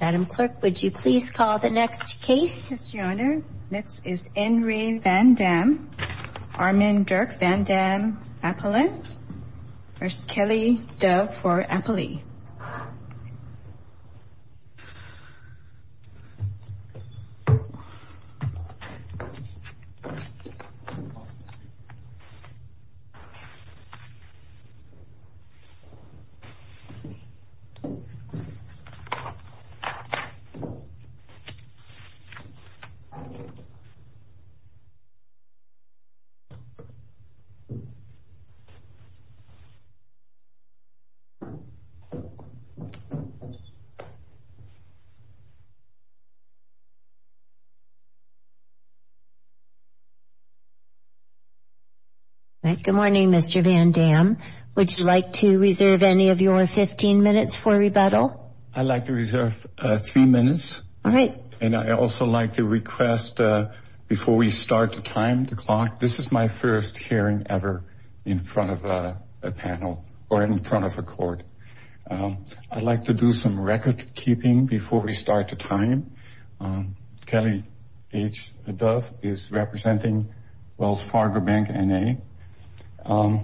Madam Clerk, would you please call the next case? Yes, Your Honor. Next is Enri Van Damme, Armin Dirk Van Damme Appellant. First, Kelly Dove for Appley. Good morning, Mr. Van Damme. Would you like to reserve any of your 15 minutes for rebuttal? I'd like to reserve three minutes. All right. And I'd also like to request, before we start to time the clock, this is my first hearing ever in front of a panel or in front of a court. I'd like to do some record keeping before we start to time. Kelly H. Dove is representing Wells Fargo Bank, N.A. Why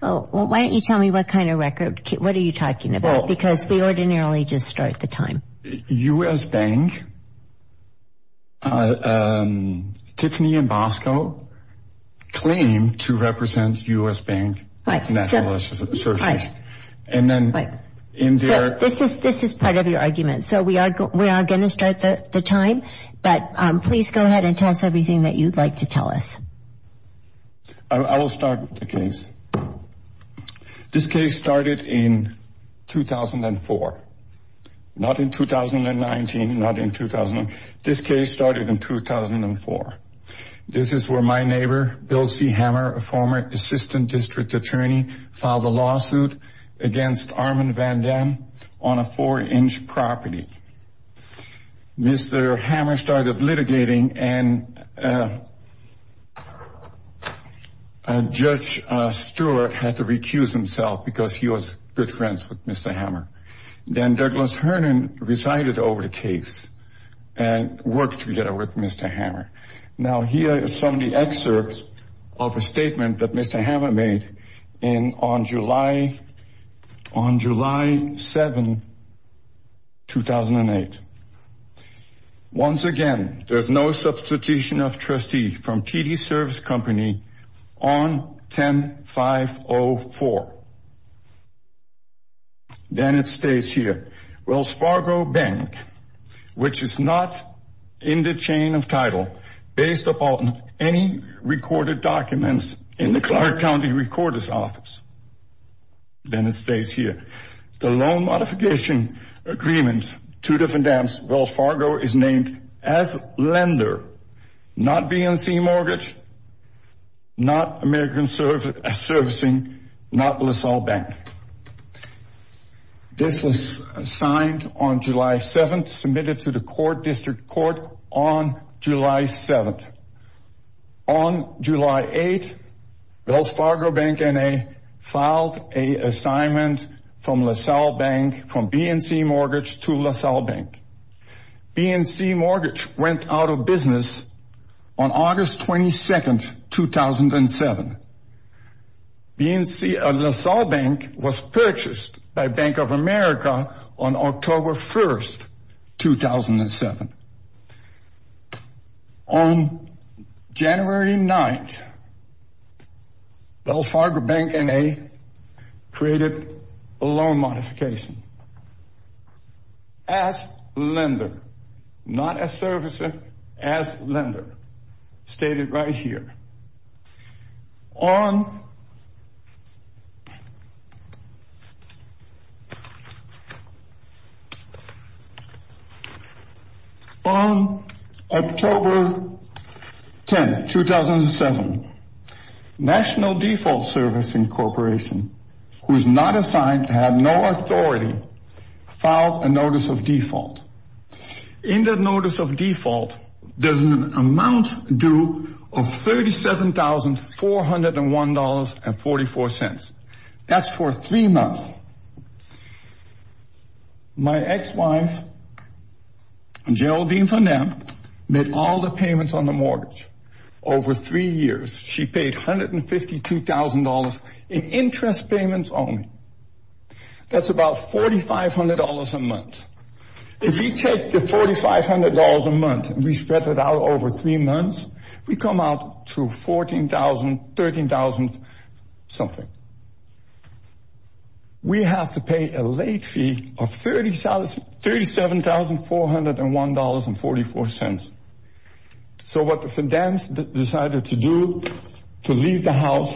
don't you tell me what kind of record? What are you talking about? Because we ordinarily just start the time. U.S. Bank, Tiffany and Bosco claim to represent U.S. Bank National Association. This is part of your argument. So we are going to start the time, but please go ahead and tell us everything that you'd like to tell us. I will start with the case. This case started in 2004, not in 2019, not in 2000. This case started in 2004. This is where my neighbor, Bill C. Hammer, a former assistant district attorney, filed a lawsuit against Armand Van Dam on a four-inch property. Mr. Hammer started litigating and Judge Stewart had to recuse himself because he was good friends with Mr. Hammer. Then Douglas Hernan resided over the case and worked together with Mr. Hammer. Now here are some of the excerpts of a statement that Mr. Hammer made on July 7, 2008. Once again, there's no substitution of trustee from TD Service Company on 10-5-0-4. Then it stays here. Wells Fargo Bank, which is not in the chain of title, based upon any recorded documents in the Clark County Recorder's Office. Then it stays here. The loan modification agreement, two different dams. Wells Fargo is named as lender, not BNC Mortgage, not American Servicing, not LaSalle Bank. This was signed on July 7, submitted to the court district court on July 7. On July 8, Wells Fargo Bank N.A. filed a assignment from LaSalle Bank, from BNC Mortgage to LaSalle Bank. BNC Mortgage went out of business on August 22, 2007. BNC LaSalle Bank was purchased by Bank of America on October 1, 2007. On January 9, Wells Fargo Bank N.A. created a loan modification. As lender, not as servicer, as lender. Stated right here. On October 10, 2007, National Default Servicing Corporation, who is not assigned, had no authority, filed a Notice of Default. In that Notice of Default, there's an amount due of $37,401.44. In three months, my ex-wife, Geraldine Farnam, made all the payments on the mortgage. Over three years, she paid $152,000 in interest payments only. That's about $4,500 a month. If you take the $4,500 a month and we spread it out over three months, we come out to $14,000, $13,000 something. We have to pay a late fee of $37,401.44. So what the Fidens decided to do, to leave the house,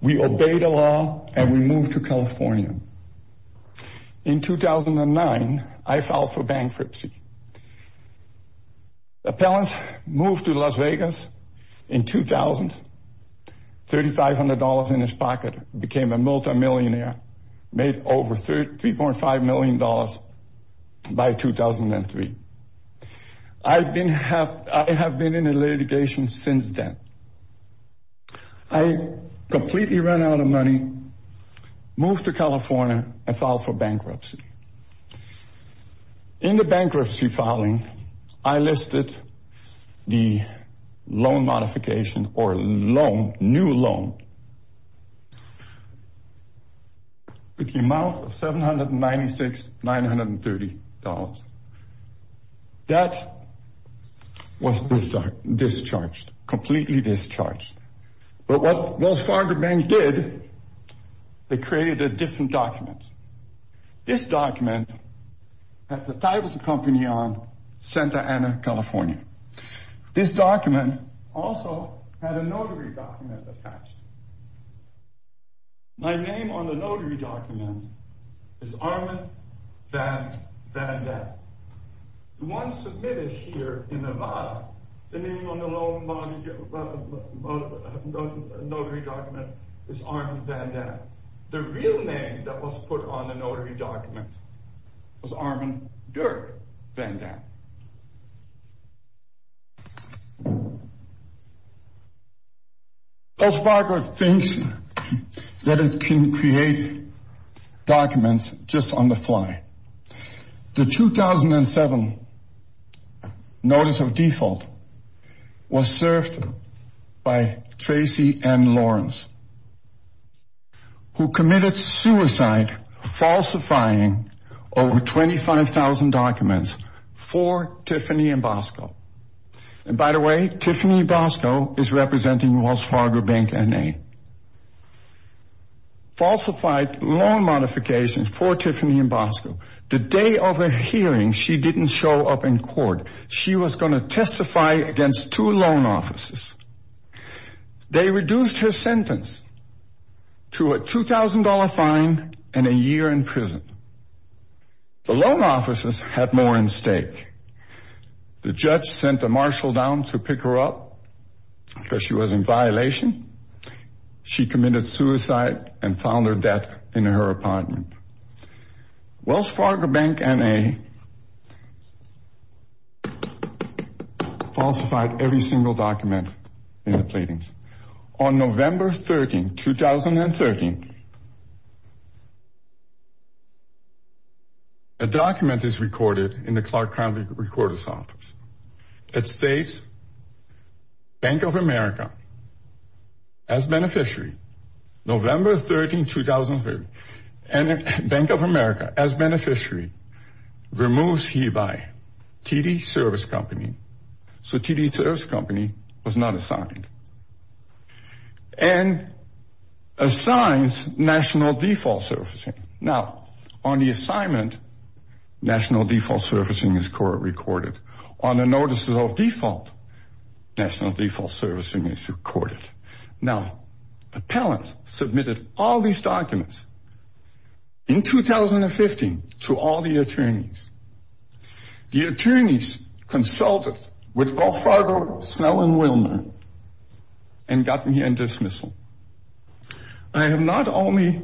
we obeyed the law and we moved to California. In 2009, I filed for bankruptcy. Appellant moved to Las Vegas in 2000, $3,500 in his pocket, became a multimillionaire, made over $3.5 million by 2003. I have been in litigation since then. I completely ran out of money, moved to California and filed for bankruptcy. In the bankruptcy filing, I listed the loan modification or new loan with the amount of $796,930. That was discharged, completely discharged. But what Wells Fargo Bank did, they created a different document. This document had the title of the company on Santa Ana, California. This document also had a notary document attached. My name on the notary document is Armand Van Dam. The one submitted here in Nevada, the name on the notary document is Armand Van Dam. The real name that was put on the notary document was Armand Dirk Van Dam. Wells Fargo thinks that it can create documents just on the fly. The 2007 notice of default was served by Tracy N. Lawrence, who committed suicide falsifying over 25,000 documents for Tiffany and Bosco. And by the way, Tiffany and Bosco is representing Wells Fargo Bank N.A. Falsified loan modifications for Tiffany and Bosco. The day of the hearing, she didn't show up in court. She was going to testify against two loan officers. They reduced her sentence to a $2,000 fine and a year in prison. The loan officers had more in stake. The judge sent a marshal down to pick her up because she was in violation. She committed suicide and found her dead in her apartment. Wells Fargo Bank N.A. falsified every single document in the platings. On November 13, 2013, a document is recorded in the Clark County Recorder's Office. It states, Bank of America as beneficiary. November 13, 2013. Bank of America as beneficiary removes hereby TD Service Company. So TD Service Company was not assigned. And assigns national default servicing. Now, on the assignment, national default servicing is recorded. On the notices of default, national default servicing is recorded. Now, appellants submitted all these documents in 2015 to all the attorneys. The attorneys consulted with Wells Fargo, Snell, and Willner and got me a dismissal. I have not only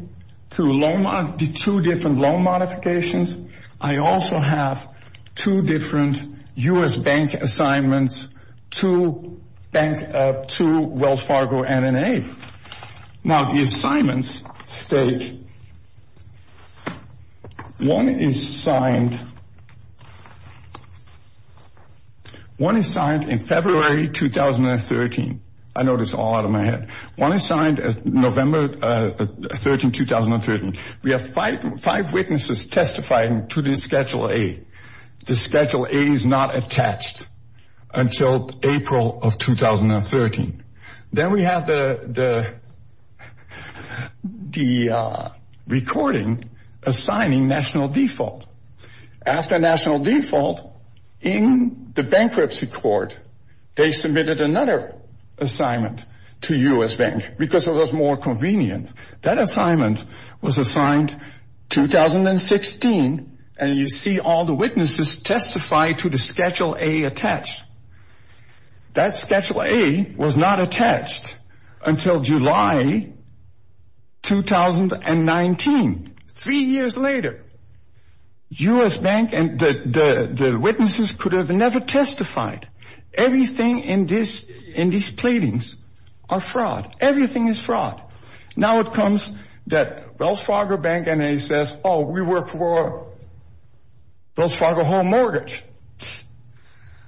the two different loan modifications, I also have two different U.S. bank assignments to Wells Fargo N.A. Now, the assignments state, one is signed in February 2013. I know this all out of my head. One is signed November 13, 2013. We have five witnesses testifying to this Schedule A. The Schedule A is not attached until April of 2013. Then we have the recording assigning national default. After national default, in the bankruptcy court, they submitted another assignment to U.S. Bank because it was more convenient. That assignment was assigned 2016, and you see all the witnesses testify to the Schedule A attached. That Schedule A was not attached until July 2019. Three years later, U.S. Bank and the witnesses could have never testified. Everything in these platings are fraud. Everything is fraud. Now, it comes that Wells Fargo Bank N.A. says, oh, we work for Wells Fargo Home Mortgage.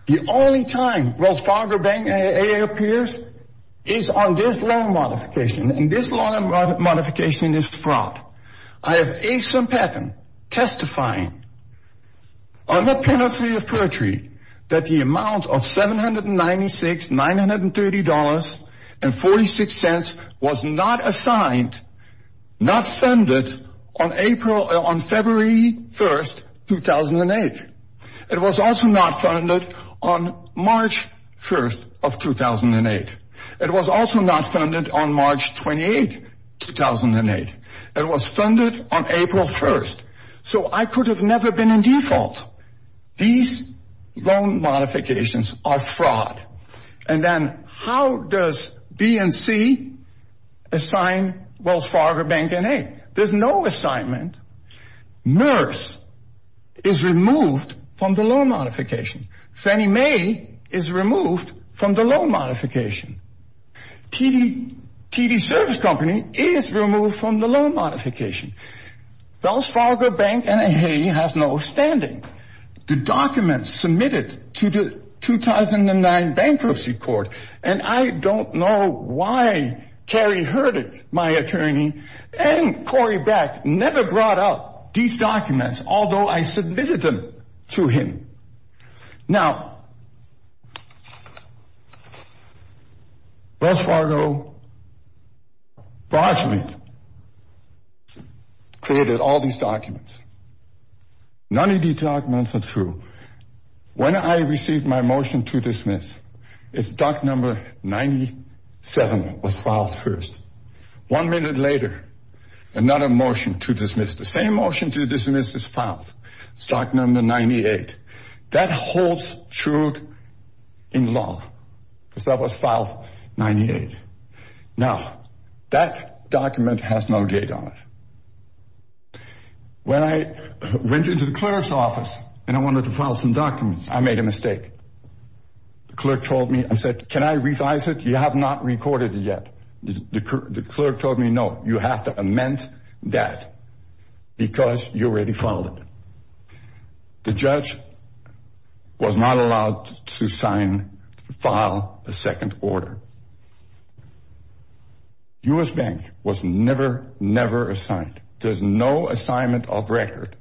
The only time Wells Fargo Bank N.A. appears is on this loan modification, and this loan modification is fraud. I have Asa Patton testifying under penalty of perjury that the amount of $796, $930, and $0.46 was not assigned, not funded on February 1, 2008. It was also not funded on March 1, 2008. It was also not funded on March 28, 2008. It was funded on April 1, so I could have never been in default. These loan modifications are fraud. And then how does BNC assign Wells Fargo Bank N.A.? There's no assignment. MERS is removed from the loan modification. Fannie Mae is removed from the loan modification. TD Service Company is removed from the loan modification. Wells Fargo Bank N.A. has no standing. The documents submitted to the 2009 bankruptcy court, and I don't know why Kerry heard it, my attorney, and Corey Beck never brought up these documents, although I submitted them to him. Now, Wells Fargo, Barclay created all these documents. None of these documents are true. When I received my motion to dismiss, its doc number 97 was filed first. One minute later, another motion to dismiss. The same motion to dismiss is filed, stock number 98. That holds true in law, because that was filed 98. Now, that document has no date on it. When I went into the clerk's office and I wanted to file some documents, I made a mistake. The clerk told me, I said, can I revise it? You have not recorded it yet. The clerk told me, you have to amend that, because you already filed it. The judge was not allowed to sign, file a second order. U.S. Bank was never, never assigned. There's no assignment of record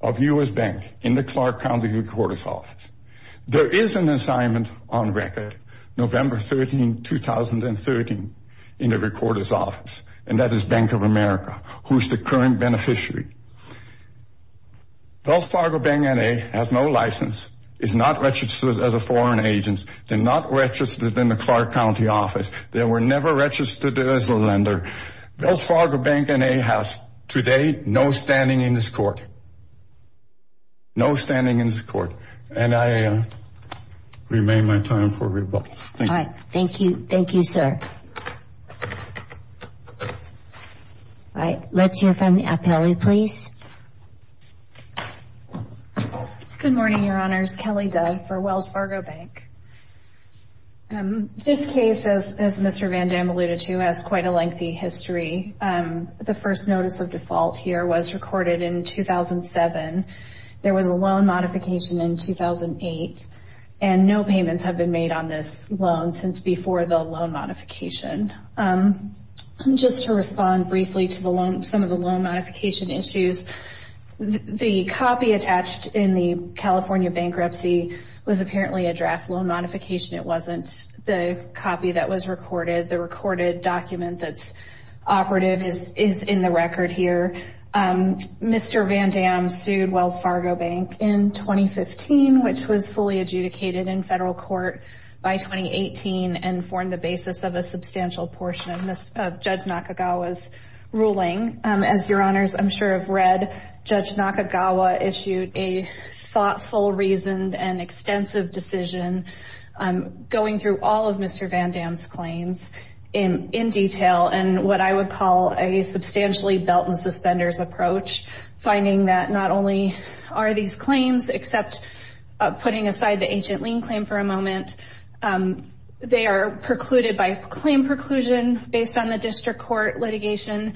of U.S. Bank in the Clark County Recorder's Office. There is an assignment on record, November 13, 2013, in the Recorder's Office, and that is Bank of America, who's the current beneficiary. Wells Fargo Bank N.A. has no license, is not registered as a foreign agent. They're not registered in the Clark County office. They were never registered as a lender. Wells Fargo Bank N.A. has, today, no standing in this court. No standing in this court, and I remain my time for rebuttal. Thank you. All right. Thank you. Thank you, sir. All right. Let's hear from the appellee, please. Good morning, Your Honors. Kelly Dove for Wells Fargo Bank. This case, as Mr. Van Dam alluded to, has quite a lengthy history. The first notice of default here was recorded in 2007. There was a loan modification in 2008, and no payments have been made on this loan since before the loan modification. Just to respond briefly to some of the loan modification issues, the copy attached in the California bankruptcy was apparently a draft loan modification. It wasn't the copy that was recorded. The recorded document that's operative is in the record here. Mr. Van Dam sued Wells Fargo Bank in 2015, which was fully adjudicated in federal court by 2018 and formed the basis of a substantial portion of Judge Nakagawa's ruling. As Your Honors, I'm sure, have read, Judge Nakagawa issued a thoughtful, reasoned, and extensive decision going through all of Mr. Van Dam's claims in detail in what I would call a substantially belt-and-suspenders approach, finding that not only are these claims, except putting aside the agent lien claim for a moment, they are precluded by claim preclusion based on the district court litigation.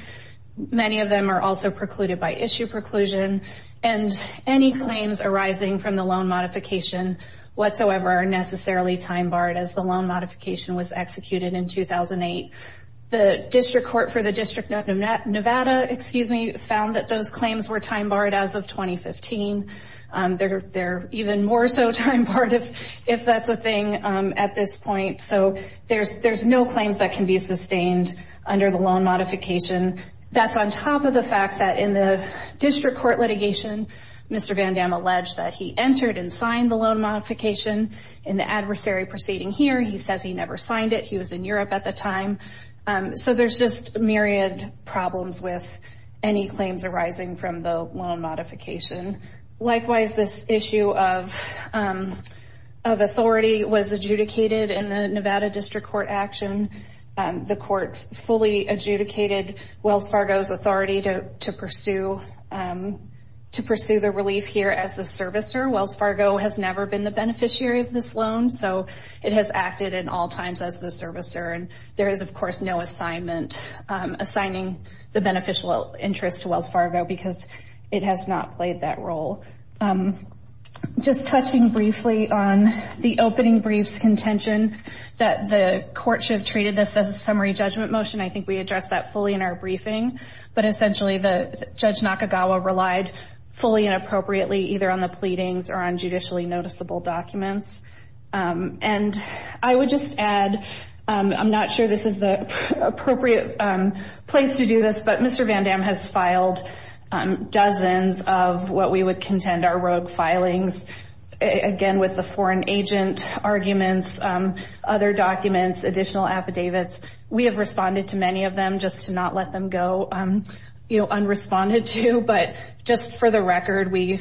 Many of them are also precluded by issue preclusion, and any claims arising from loan modification whatsoever are necessarily time-barred, as the loan modification was executed in 2008. The district court for the District of Nevada found that those claims were time-barred as of 2015. They're even more so time-barred, if that's a thing, at this point. So there's no claims that can be sustained under the loan modification. That's on top of the fact that in signed the loan modification in the adversary proceeding here. He says he never signed it. He was in Europe at the time. So there's just myriad problems with any claims arising from the loan modification. Likewise, this issue of authority was adjudicated in the Nevada District Court action. The court fully adjudicated Wells Fargo's authority to pursue the relief here as the servicer. Wells Fargo has never been the beneficiary of this loan, so it has acted in all times as the servicer, and there is, of course, no assignment assigning the beneficial interest to Wells Fargo because it has not played that role. Just touching briefly on the opening brief's contention that the court should have treated this as a summary judgment motion. I think we addressed that fully in our judicially noticeable documents. I would just add, I'm not sure this is the appropriate place to do this, but Mr. Van Dam has filed dozens of what we would contend are rogue filings, again with the foreign agent arguments, other documents, additional affidavits. We have responded to many of them just to not let them go unresponded to, but just for the record, we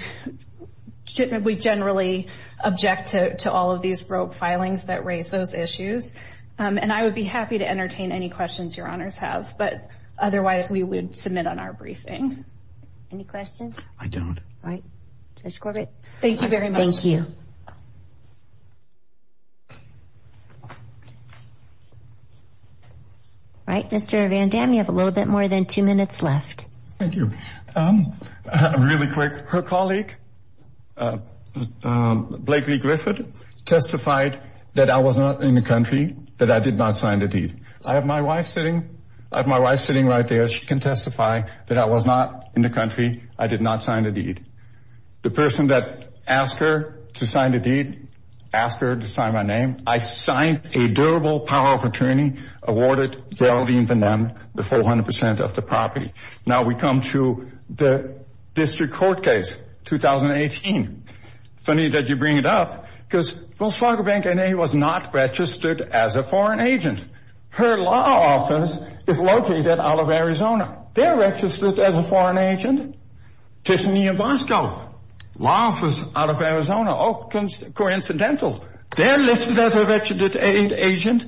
generally object to all of these rogue filings that raise those issues, and I would be happy to entertain any questions your honors have, but otherwise we would submit on our briefing. Any questions? I don't. All right, Judge Corbett. Thank you very much. Thank you. All right, Mr. Van Dam, you have a little bit more than two minutes left. Thank you. Really quick, her colleague, Blakely Griffith, testified that I was not in the country, that I did not sign the deed. I have my wife sitting right there. She can testify that I was not in the country. I did not sign the deed. The person that asked her to sign the deed, asked her to sign my name. I signed a durable power of attorney awarded Geraldine Van Dam the 400% of the property. Now we come to the district court case, 2018. Funny that you bring it up, because Wells Fargo Bank N.A. was not registered as a foreign agent. Her law office is located out of Arizona. They're registered as a foreign agent. Tishnee and Bosco, law office out of Arizona, coincidental. They're listed as a registered agent.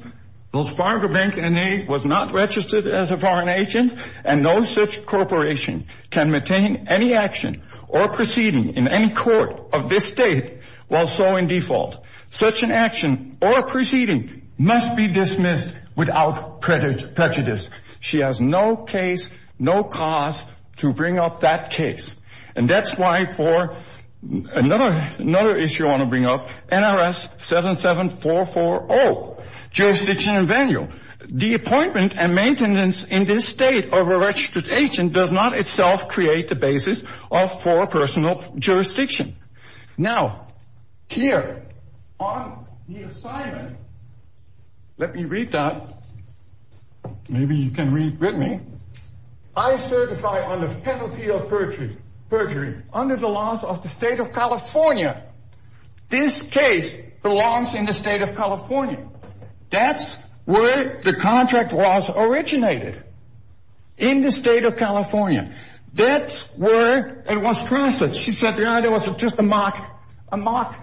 Wells Fargo Bank N.A. was not registered as a foreign agent, and no such corporation can maintain any action or proceeding in any court of this state while so in default. Such an action or proceeding must be dismissed without prejudice. She has no case, no cause to bring up that case. And that's why for another issue I want to bring up, NRS 77440, jurisdiction and venue. The appointment and maintenance in this state of a registered agent does not itself create the basis for personal jurisdiction. Now here on the assignment, let me read that. Maybe you can read with me. I certify on the penalty of perjury under the laws of the state of California. This case belongs in the state of California. That's where the contract was originated, in the state of California. That's where it was transferred. She said, yeah, there was just a mark, a mark.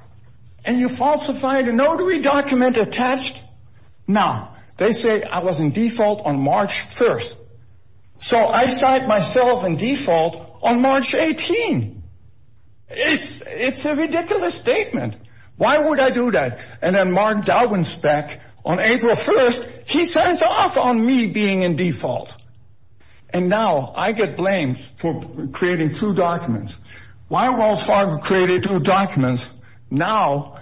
And you falsified a notary document attached. Now they say I was in default on March 1st. So I cite myself in default on March 18th. It's, it's a ridiculous statement. Why would I do that? And then Mark Dowinspec on April 1st, he signs off on me being in default. And now I get blamed for creating two documents. Why did Wells Fargo create two documents? Now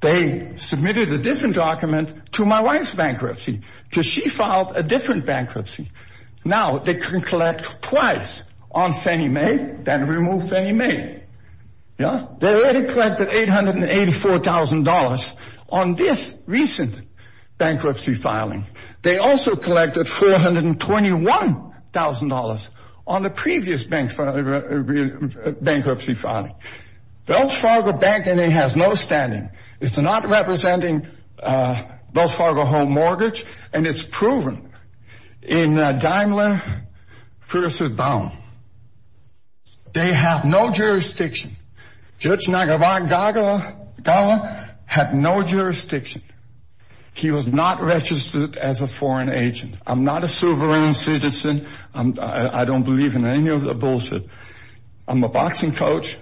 they submitted a different document to my wife's bankruptcy because she filed a different bankruptcy. Now they can collect twice on Fannie Mae than remove Fannie Mae. Yeah, they already collected $884,000 on this recent bankruptcy filing. They also collected $421,000 on the previous bankruptcy filing. Wells Fargo Bank has no standing. It's not representing Wells Fargo home mortgage. And it's proven in Daimler versus Bowne. They have no jurisdiction. Judge Nagarwala had no jurisdiction. He was not registered as a foreign agent. I'm not a sovereign citizen. I don't believe in any of the bullshit. I'm a boxing coach.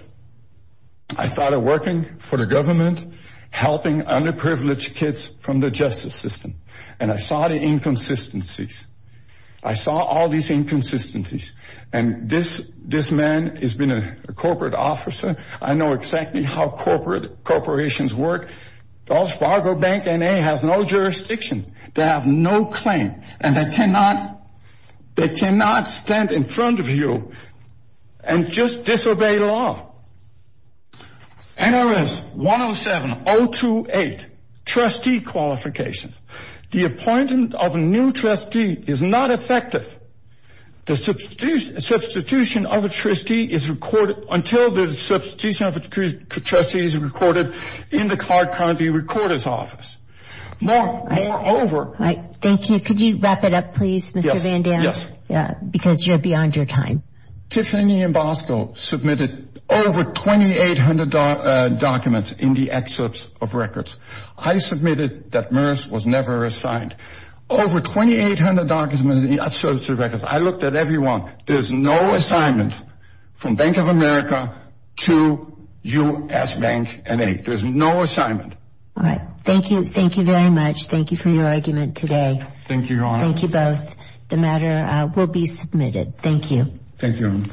I started working for the government, helping underprivileged kids from the justice system. And I saw the inconsistencies. I saw all these inconsistencies. And this, this man has been a corporate officer. I know exactly how corporate corporations work. Wells Fargo Bank has no jurisdiction. They have no claim. And they cannot, they cannot stand in front of you and just disobey law. NRS 107028, trustee qualification. The appointment of a new trustee is not effective. The substitution of a trustee is recorded until the substitution of a trustee is recorded in the Clark County Recorder's Office. More, moreover... Right. Thank you. Could you wrap it up, please, Mr. Van Dam? Yes. Yes. Because you're beyond your time. Tiffany and Bosco submitted over 2,800 documents in the excerpts of records. I submitted that MRRS was never assigned. Over 2,800 documents in the excerpts of records. I looked at every one. There's no assignment from Bank of America to U.S. Bank N.A. There's no assignment. All right. Thank you. Thank you very much. Thank you for your argument today. Thank you, Your Honor. Thank you both. The matter will be submitted. Thank you. Thank you.